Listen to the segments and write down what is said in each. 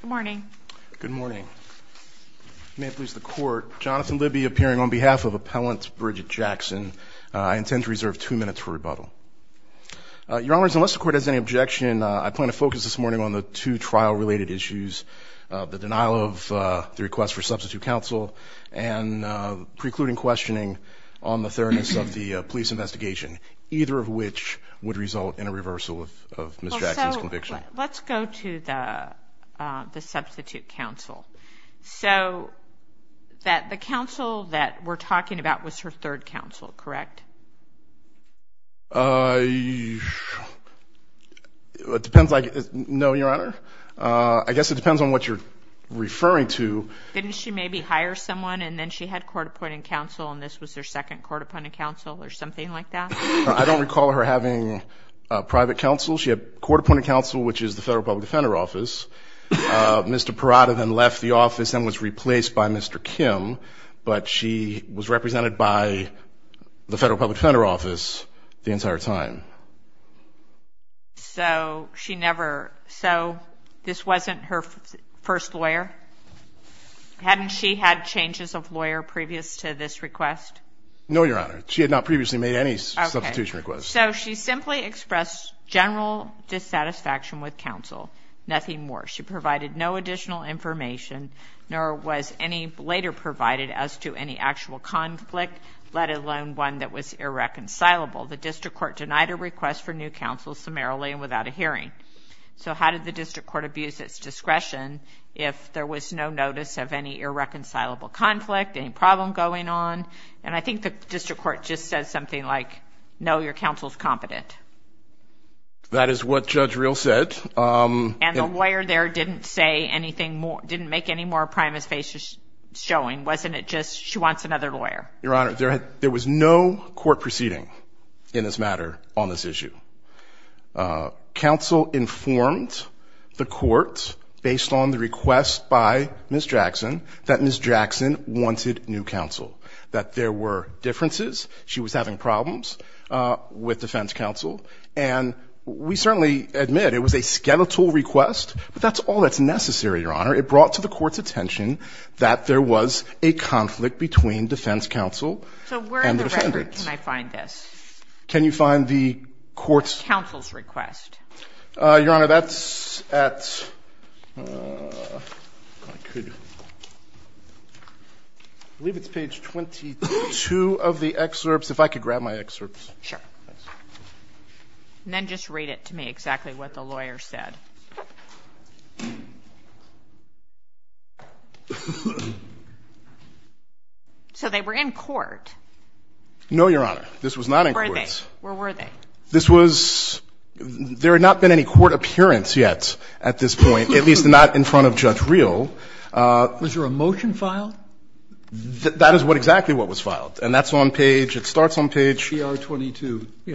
Good morning. Good morning. May it please the court, Jonathan Libby appearing on behalf of Appellant Bridgette Jackson. I intend to reserve two minutes for rebuttal. Your Honors, unless the court has any objection, I plan to focus this morning on the two trial-related issues, the denial of the request for substitute counsel and precluding questioning on the fairness of the police investigation, either of which would result in a reversal of Ms. Jackson's conviction. Let's go to the substitute counsel. So that the counsel that we're talking about was her third counsel, correct? It depends like, no, Your Honor. I guess it depends on what you're referring to. Didn't she maybe hire someone and then she had court-appointed counsel and this was her second court-appointed counsel or something like that? I don't recall her having private counsel. She had court-appointed counsel, which is the Federal Public Defender Office. Mr. Perotta then left the office and was replaced by Mr. Kim, but she was represented by the Federal Public Defender Office the entire time. So she never, so this wasn't her first lawyer? Hadn't she had changes of lawyer previous to this request? No, Your Honor. She had not previously made any substitution requests. So she simply expressed general dissatisfaction with counsel, nothing more. She provided no additional information nor was any later provided as to any actual conflict, let alone one that was irreconcilable. The district court denied a request for new counsel summarily and without a hearing. So how did the district court abuse its discretion if there was no notice of any irreconcilable conflict, any problem going on? And I think the district court just said something like, no, your counsel's competent. That is what Judge Real said. And the lawyer there didn't say anything more, didn't make any more primus facia showing. Wasn't it just she wants another lawyer? Your Honor, there was no court proceeding in this matter on this issue. Counsel informed the court based on the request by Ms. Jackson that Ms. Jackson wanted new counsel, that there were differences. She was having problems with defense counsel. And we certainly admit it was a skeletal request, but that's all that's necessary, Your Honor. It brought to the court's attention that there was a conflict between defense counsel and the court's counsel's request. Your Honor, that's at, I believe it's page 22 of the excerpts. If I could grab my excerpts. Sure. And then just read it to me exactly what the lawyer said. So they were in court. No, Your Honor, this was not in court. Where were they? This was, there had not been any court appearance yet at this point, at least not in front of Judge Real. Was there a motion filed? That is what exactly what was filed. And that's on page, it starts on page 22. 22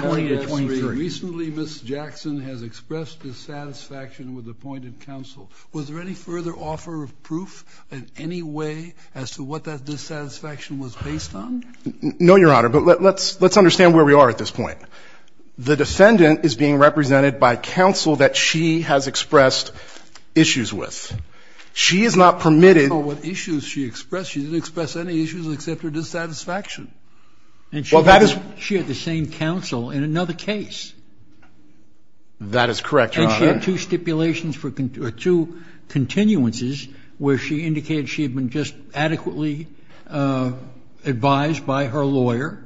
to 23. Recently, Ms. Jackson has expressed dissatisfaction with appointed counsel. Was there any further offer of proof in any way as to what that dissatisfaction was based on? No, Your Honor. But let's understand where we are at this point. The defendant is being represented by counsel that she has expressed issues with. She has not permitted to express any issues except her dissatisfaction. And she had the same counsel in another case. That is correct, Your Honor. And she had two stipulations or two continuances where she indicated she had been just adequately advised by her lawyer.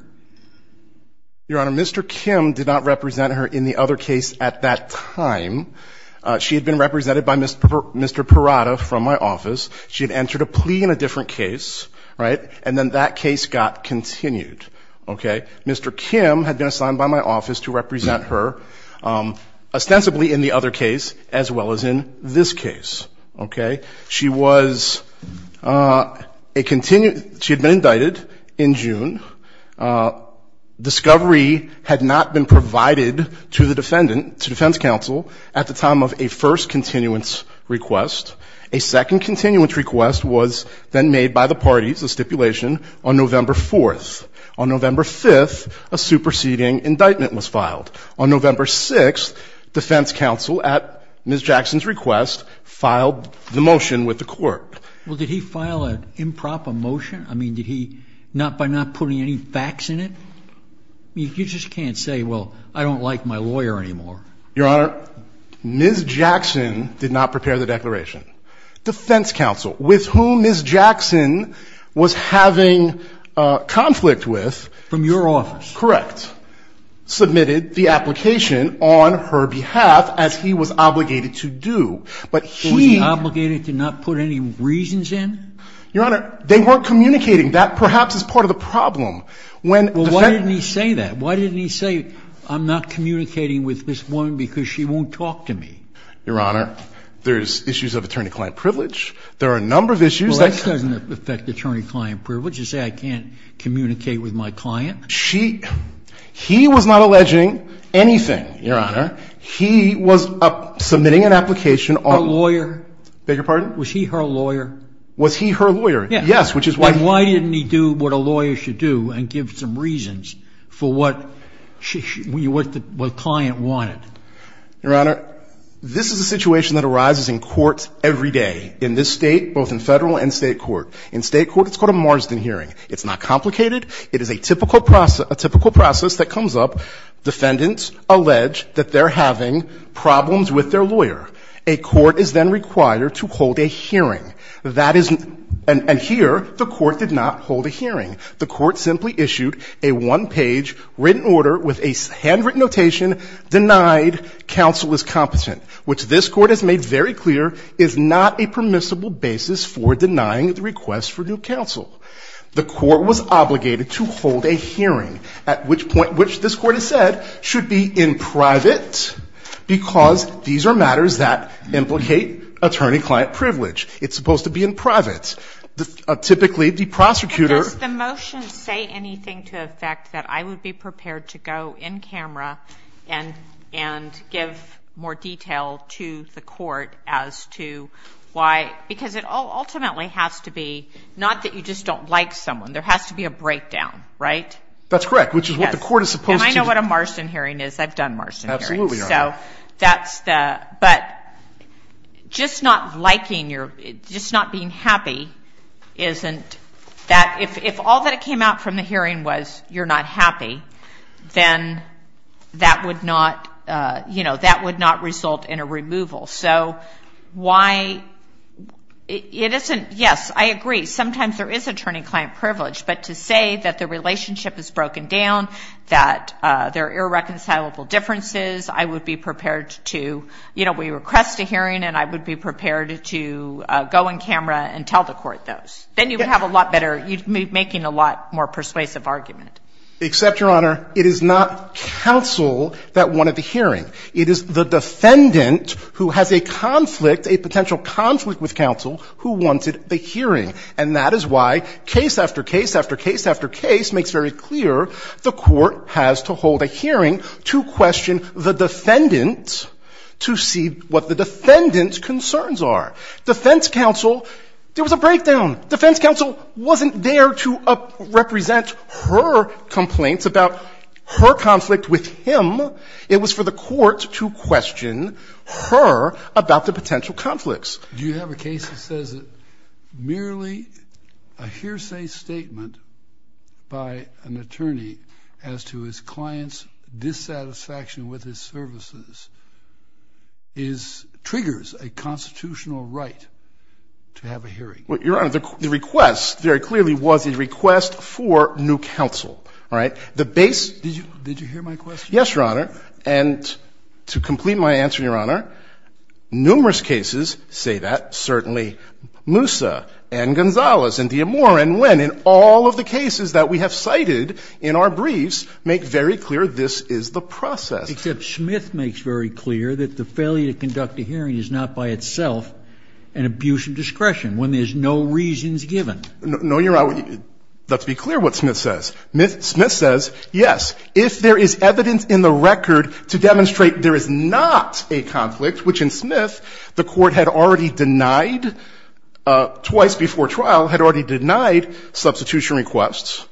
Your Honor, Mr. Kim did not represent her in the other case at that time. She had been represented by Mr. Perotta from my office. She had entered a plea in a different case, right? And then that case got continued, okay? Mr. Kim had been assigned by my office to represent her ostensibly in the other case as well as in this case, okay? She was a continued – she had been indicted in June. Discovery had not been provided to the defendant, to defense counsel at the time of a first continuance request. A second continuance request was then made by the parties, a stipulation on November 4th. On November 5th, a superseding indictment was filed. On November 6th, defense counsel at Ms. Jackson's request filed the motion with the court. Well, did he file an improper motion? I mean, did he – not by not putting any facts in it? You just can't say, well, I don't like my lawyer anymore. Your Honor, Ms. Jackson did not prepare the declaration. Defense counsel with whom Ms. Jackson was having conflict with – From your office. Correct. Submitted the application on her behalf as he was obligated to do. But he – Was he obligated to not put any reasons in? Your Honor, they weren't communicating. That perhaps is part of the problem. When – Well, why didn't he say that? Why didn't he say, I'm not communicating with this woman because she won't talk to me? Your Honor, there's issues of attorney-client privilege. There are a number of issues that – Well, that doesn't affect attorney-client privilege to say I can't communicate with my client. She – he was not alleging anything, Your Honor. He was submitting an application on – A lawyer? Beg your pardon? Was he her lawyer? Was he her lawyer? Yes. Yes, which is why – Then why didn't he do what a lawyer should do and give some reasons for what she – what the client wanted? Your Honor, this is a situation that arises in courts every day, in this State, both in Federal and State court. In State court, it's called a Marsden hearing. It's not complicated. It is a typical process that comes up. Defendants allege that they're having problems with their lawyer. A court is then required to hold a hearing. That is – and here, the court did not hold a hearing. The court simply issued a one-page written order with a handwritten notation denied counsel is competent, which this court has made very clear is not a permissible basis for denying the request for due counsel. The court was obligated to hold a hearing, at which point – which this court has said should be in private, because these are matters that implicate attorney- client privilege. It's supposed to be in private. Typically, the prosecutor – But does the motion say anything to effect that I would be prepared to go in camera and give more detail to the court as to why – because it ultimately has to be not that you just don't like someone. There has to be a breakdown, right? That's correct, which is what the court is supposed to do. And I know what a Marsden hearing is. I've done Marsden hearings. Absolutely, Your Honor. So that's the – but just not liking your – just not being happy isn't that – if all that came out from the hearing was you're not happy, then that would not – you know, that would not result in a removal. So why – it isn't – yes, I agree. Sometimes there is attorney-client privilege, but to say that the relationship is broken down, that there are irreconcilable differences, I would be prepared to – you know, we request a hearing, and I would be prepared to go in camera and tell the court those. Then you would have a lot better – you'd be making a lot more persuasive argument. Except, Your Honor, it is not counsel that wanted the hearing. It is the defendant who has a conflict, a potential conflict with counsel, who wanted the hearing. And that is why case after case after case after case makes very clear the court has to hold a hearing to question the defendant to see what the defendant's concerns are. Defense counsel – there was a breakdown. Defense counsel wasn't there to represent her complaints about her conflict with him. It was for the court to question her about the potential conflicts. Do you have a case that says that merely a hearsay statement by an attorney as to his client's dissatisfaction with his services is – triggers a constitutional right to have a hearing? Well, Your Honor, the request very clearly was a request for new counsel. All right? The base – Did you – did you hear my question? Yes, Your Honor. And to complete my answer, Your Honor, numerous cases say that. Certainly Moussa and Gonzalez and D'Amore and Wynn in all of the cases that we have cited in our briefs make very clear this is the process. Except Smith makes very clear that the failure to conduct a hearing is not by itself an abuse of discretion when there's no reasons given. No, Your Honor, let's be clear what Smith says. Smith says, yes, if there is evidence in the record to demonstrate there is not a conflict, which in Smith the court had already denied twice before trial, had already denied substitution requests,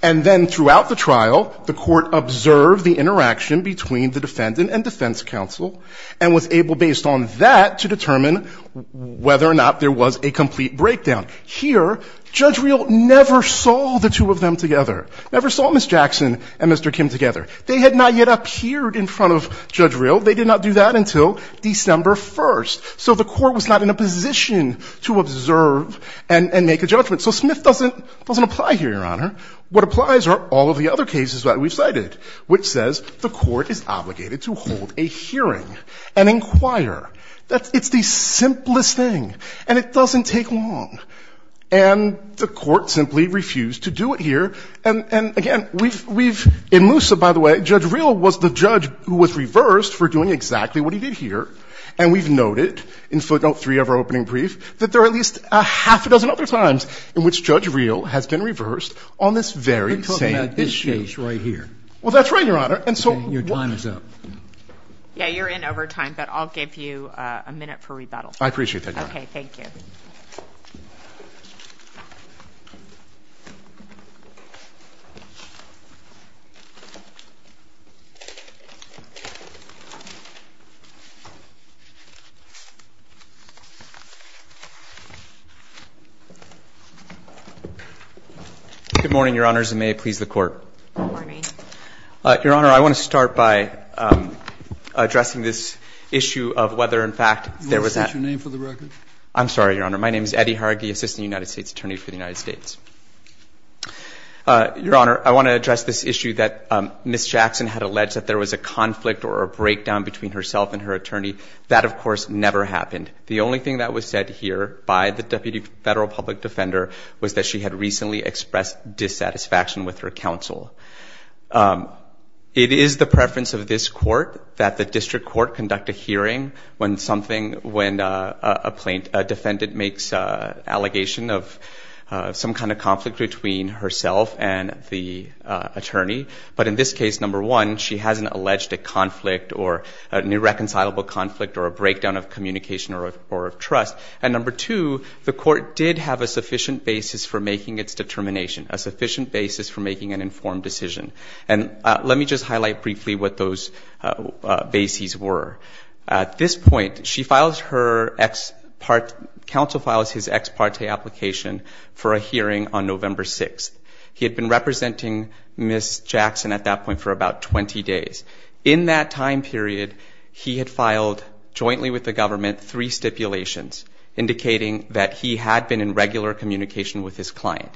and then throughout the trial the court observed the interaction between the defendant and defense counsel and was able, based on that, to determine whether or not there was a complete breakdown. Here, Judge Reel never saw the two of them together, never saw Ms. Jackson and Mr. Kim together. They had not yet appeared in front of Judge Reel. They did not do that until December 1st. So the court was not in a position to observe and make a judgment. So Smith doesn't – doesn't apply here, Your Honor. What applies are all of the other cases that we've cited, which says the court is obligated to hold a hearing and inquire. It's the simplest thing, and it doesn't take long. And the court simply refused to do it here. And, again, we've – in Moosa, by the way, Judge Reel was the judge who was reversed for doing exactly what he did here. And we've noted in Footnote 3 of our opening brief that there are at least a half a dozen other times in which Judge Reel has been reversed on this very same issue. We're talking about this case right here. Well, that's right, Your Honor. And so – Okay, your time is up. Yeah, you're in over time, but I'll give you a minute for rebuttal. I appreciate that, Your Honor. Okay, thank you. Good morning, Your Honors, and may it please the Court. Good morning. Your Honor, I want to start by addressing this issue of whether, in fact, there was a – Will you state your name for the record? I'm sorry, Your Honor. My name is Eddie Hargi, Assistant United States Attorney for the United States. Your Honor, I want to address this issue that Ms. Jackson had alleged that there was a conflict or a breakdown between herself and her attorney. That, of course, never happened. The only thing that was said here by the Deputy Federal Public Defender was that she had recently expressed dissatisfaction with her counsel. It is the preference of this Court that the District Court conduct a hearing when something – when a defendant makes an allegation of some kind of conflict between herself and the attorney. But in this case, number one, she hasn't alleged a conflict or an irreconcilable conflict or a breakdown of communication or of trust. And number two, the Court did have a sufficient basis for making its determination, a sufficient basis for making an informed decision. And let me just highlight briefly what those bases were. At this point, she files her – counsel files his ex parte application for a hearing on November 6th. He had been representing Ms. Jackson at that point for about 20 days. In that time period, he had filed jointly with the government three stipulations indicating that he had been in regular communication with his client.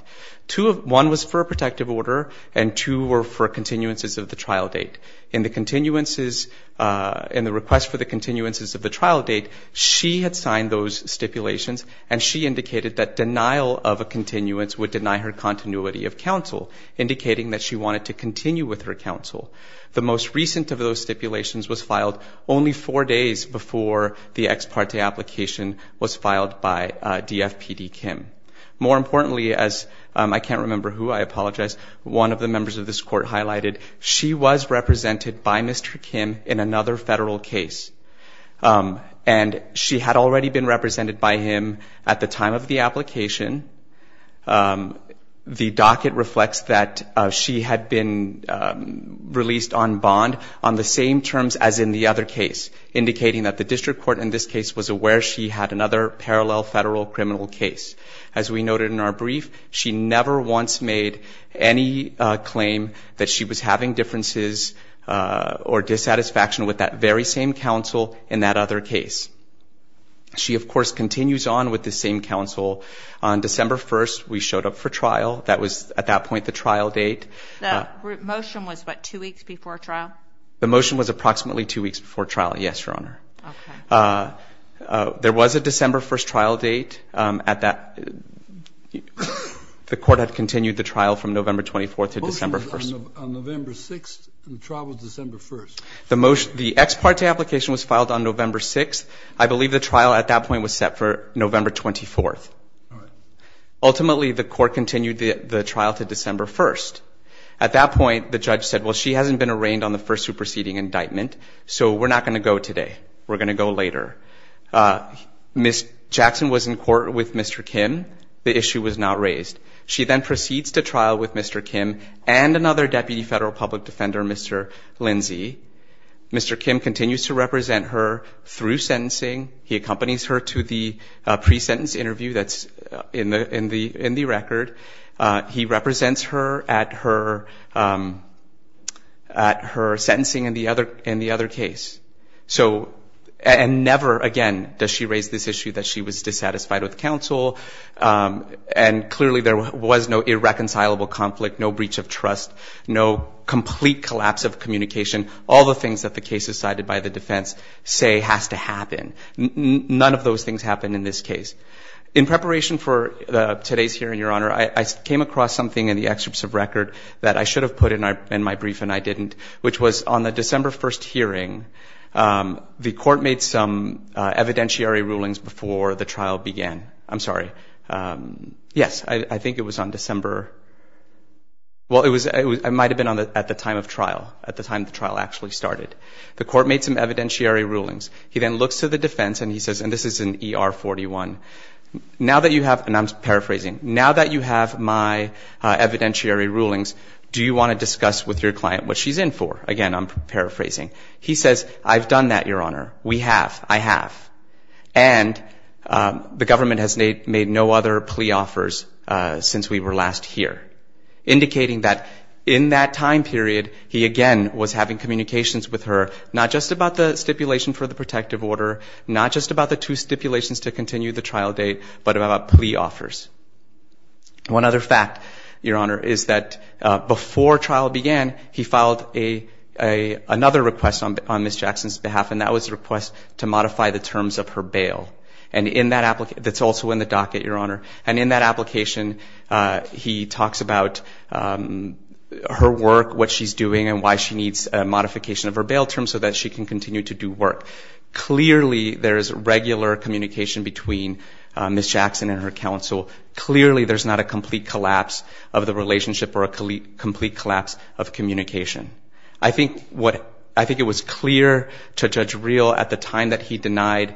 Two of – one was for a protective order and two were for continuances of the trial date. In the continuances – in the request for the continuances of the trial date, she had signed those stipulations and she indicated that denial of a continuance would deny her continuity of counsel, indicating that she wanted to continue with her counsel. The most recent of those stipulations was filed only four days before the ex parte application was filed by DFPD Kim. More importantly, as – I can't remember who, I apologize – one of the members of this Court highlighted, she was represented by Mr. Kim in another federal case. And she had already been represented by him at the time of the application. The docket reflects that she had been released on bond on the same terms as in the other case, indicating that the district court in this case was aware she had another parallel federal criminal case. As we noted in our brief, she never once made any claim that she was having differences or dissatisfaction with that very same counsel in that other case. She, of course, continues on with the same counsel. On December 1st, we showed up for trial. That was, at that point, the trial date. The motion was, what, two weeks before trial? The motion was approximately two weeks before trial, yes, Your Honor. Okay. There was a December 1st trial date. The Court had continued the trial from November 24th to December 1st. On November 6th, the trial was December 1st. The ex parte application was filed on November 6th. I believe the trial at that point was set for November 24th. All right. Ultimately, the Court continued the trial to December 1st. At that point, the judge said, well, she hasn't been arraigned on the first superseding indictment, so we're not going to go today. We're going to go later. Ms. Jackson was in court with Mr. Kim. The issue was not raised. She then proceeds to trial with Mr. Kim and another Deputy Federal Public Defender, Mr. Lindsey. Mr. Kim continues to represent her through sentencing. He accompanies her to the pre-sentence interview that's in the record. He represents her at her sentencing in the other case. And never again does she raise this issue that she was dissatisfied with counsel. And clearly there was no irreconcilable conflict, no breach of trust, no complete collapse of communication. All the things that the cases cited by the defense say has to happen. None of those things happened in this case. In preparation for today's hearing, Your Honor, I came across something in the excerpts of record that I should have put in my brief and I didn't, which was on the December 1st hearing, the court made some evidentiary rulings before the trial began. I'm sorry. Yes, I think it was on December. Well, it might have been at the time of trial, at the time the trial actually started. The court made some evidentiary rulings. He then looks to the defense and he says, and this is in ER 41, now that you have, and I'm paraphrasing, now that you have my evidentiary rulings, do you want to discuss with your client what she's in for? Again, I'm paraphrasing. He says, I've done that, Your Honor. We have. I have. And the government has made no other plea offers since we were last here, indicating that in that time period he, again, was having communications with her, not just about the stipulation for the protective order, not just about the two stipulations to continue the trial date, but about plea offers. One other fact, Your Honor, is that before trial began, he filed another request on Ms. Jackson's behalf, and that was a request to modify the terms of her bail. And in that application, that's also in the docket, Your Honor, and in that application he talks about her work, what she's doing, and why she needs a modification of her bail terms so that she can continue to do work. Clearly there is regular communication between Ms. Jackson and her counsel. Clearly there's not a complete collapse of the relationship or a complete collapse of communication. I think it was clear to Judge Reel at the time that he denied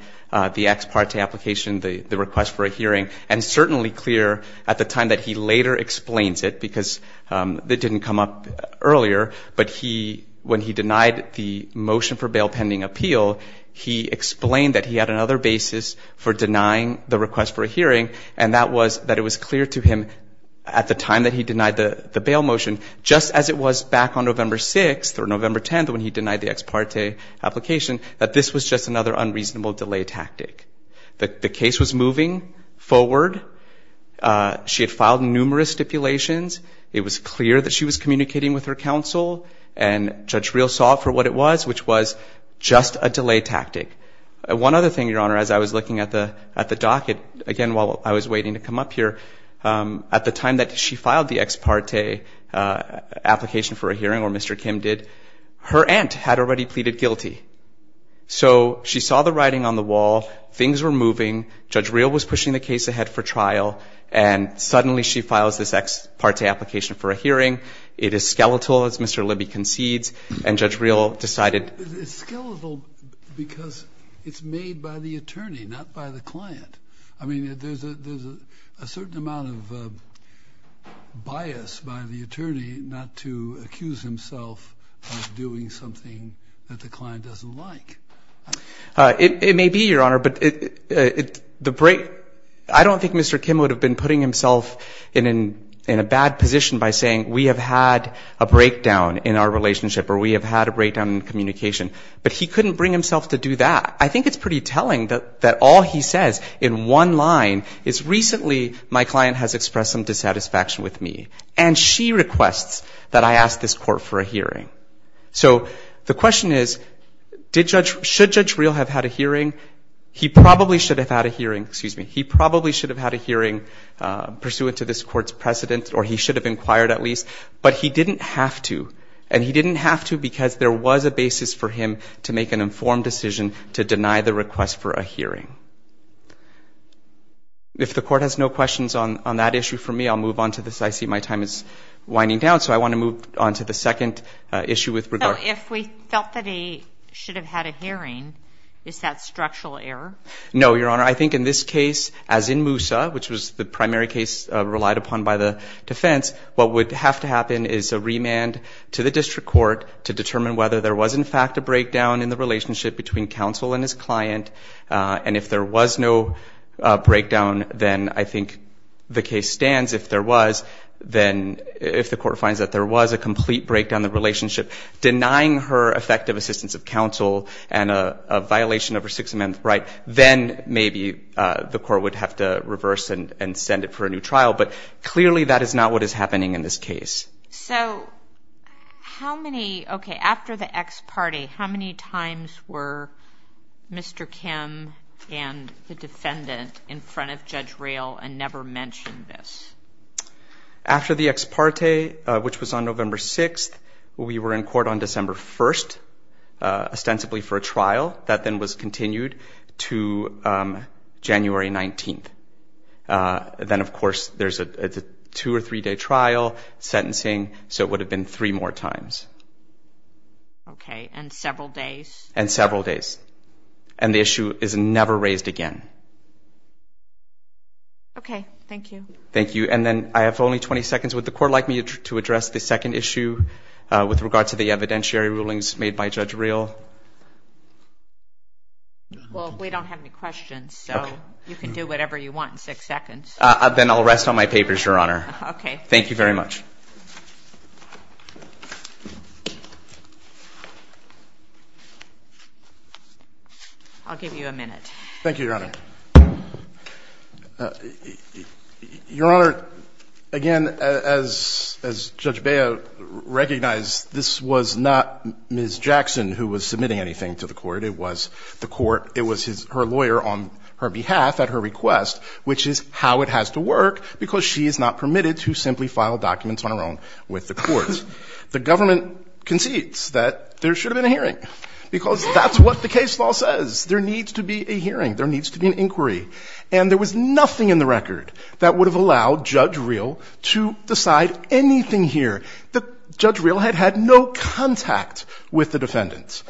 the ex parte application, the request for a hearing, and certainly clear at the time that he later explains it, because it didn't come up earlier, but when he denied the motion for bail pending appeal, he explained that he had another basis for denying the request for a hearing, and that was that it was clear to him at the time that he denied the bail motion, just as it was back on November 6th or November 10th when he denied the ex parte application, that this was just another unreasonable delay tactic. The case was moving forward. She had filed numerous stipulations. It was clear that she was communicating with her counsel, and Judge Reel saw it for what it was, which was just a delay tactic. One other thing, Your Honor, as I was looking at the docket, again while I was waiting to come up here, at the time that she filed the ex parte application for a hearing, or Mr. Kim did, her aunt had already pleaded guilty. So she saw the writing on the wall, things were moving, Judge Reel was pushing the case ahead for trial, and suddenly she files this ex parte application for a hearing. It is skeletal, as Mr. Libby concedes, and Judge Reel decided. It's skeletal because it's made by the attorney, not by the client. I mean there's a certain amount of bias by the attorney not to accuse himself of doing something that the client doesn't like. It may be, Your Honor, but I don't think Mr. Kim would have been putting himself in a bad position by saying we have had a breakdown in our relationship or we have had a breakdown in communication, but he couldn't bring himself to do that. I think it's pretty telling that all he says in one line is, recently my client has expressed some dissatisfaction with me, and she requests that I ask this court for a hearing. So the question is, should Judge Reel have had a hearing? He probably should have had a hearing pursuant to this court's precedent or he should have inquired at least, but he didn't have to, and he didn't have to because there was a basis for him to make an informed decision to deny the request for a hearing. If the court has no questions on that issue for me, I'll move on to this. I see my time is winding down, so I want to move on to the second issue with regard. So if we felt that he should have had a hearing, is that structural error? No, Your Honor. I think in this case, as in Moussa, which was the primary case relied upon by the defense, what would have to happen is a remand to the district court to determine whether there was, in fact, a breakdown in the relationship between counsel and his client, and if there was no breakdown, then I think the case stands. If there was, then if the court finds that there was a complete breakdown in the relationship, denying her effective assistance of counsel and a violation of her Sixth Amendment right, then maybe the court would have to reverse and send it for a new trial, but clearly that is not what is happening in this case. So how many, okay, after the ex parte, how many times were Mr. Kim and the defendant in front of Judge Roehl and never mentioned this? After the ex parte, which was on November 6th, we were in court on December 1st, ostensibly for a trial. That then was continued to January 19th. Then, of course, there's a two- or three-day trial sentencing, so it would have been three more times. Okay. And several days. And several days. And the issue is never raised again. Okay. Thank you. Thank you. And then I have only 20 seconds. Would the court like me to address the second issue with regard to the evidentiary rulings made by Judge Roehl? Well, we don't have any questions, so you can do whatever you want in six seconds. Then I'll rest on my papers, Your Honor. Okay. Thank you very much. I'll give you a minute. Thank you, Your Honor. Your Honor, again, as Judge Baio recognized, this was not Ms. Jackson who was submitting anything to the court. It was the court. It was her lawyer on her behalf at her request, which is how it has to work because she is not permitted to simply file documents on her own with the courts. The government concedes that there should have been a hearing because that's what the case law says. There needs to be a hearing. There needs to be an inquiry. And there was nothing in the record that would have allowed Judge Roehl to decide anything here. Judge Roehl had had no contact with the defendants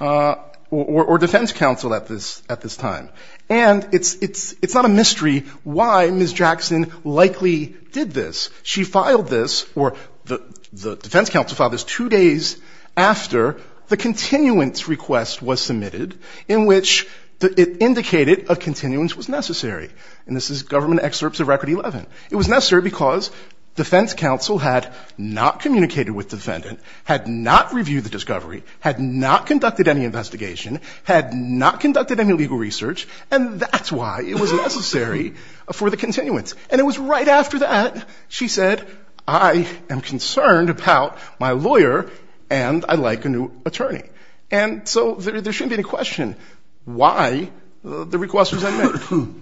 or defense counsel at this time. And it's not a mystery why Ms. Jackson likely did this. She filed this or the defense counsel filed this two days after the continuance request was submitted in which it indicated a continuance was necessary. And this is Government Excerpts of Record 11. It was necessary because defense counsel had not communicated with defendant, had not reviewed the discovery, had not conducted any investigation, had not conducted any legal research, and that's why it was necessary for the continuance. And it was right after that she said, I am concerned about my lawyer and I'd like a new attorney. And so there shouldn't be any question why the request was made.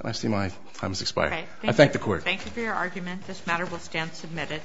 I see my time has expired. I thank the court. Thank you for your argument. This matter will stand submitted.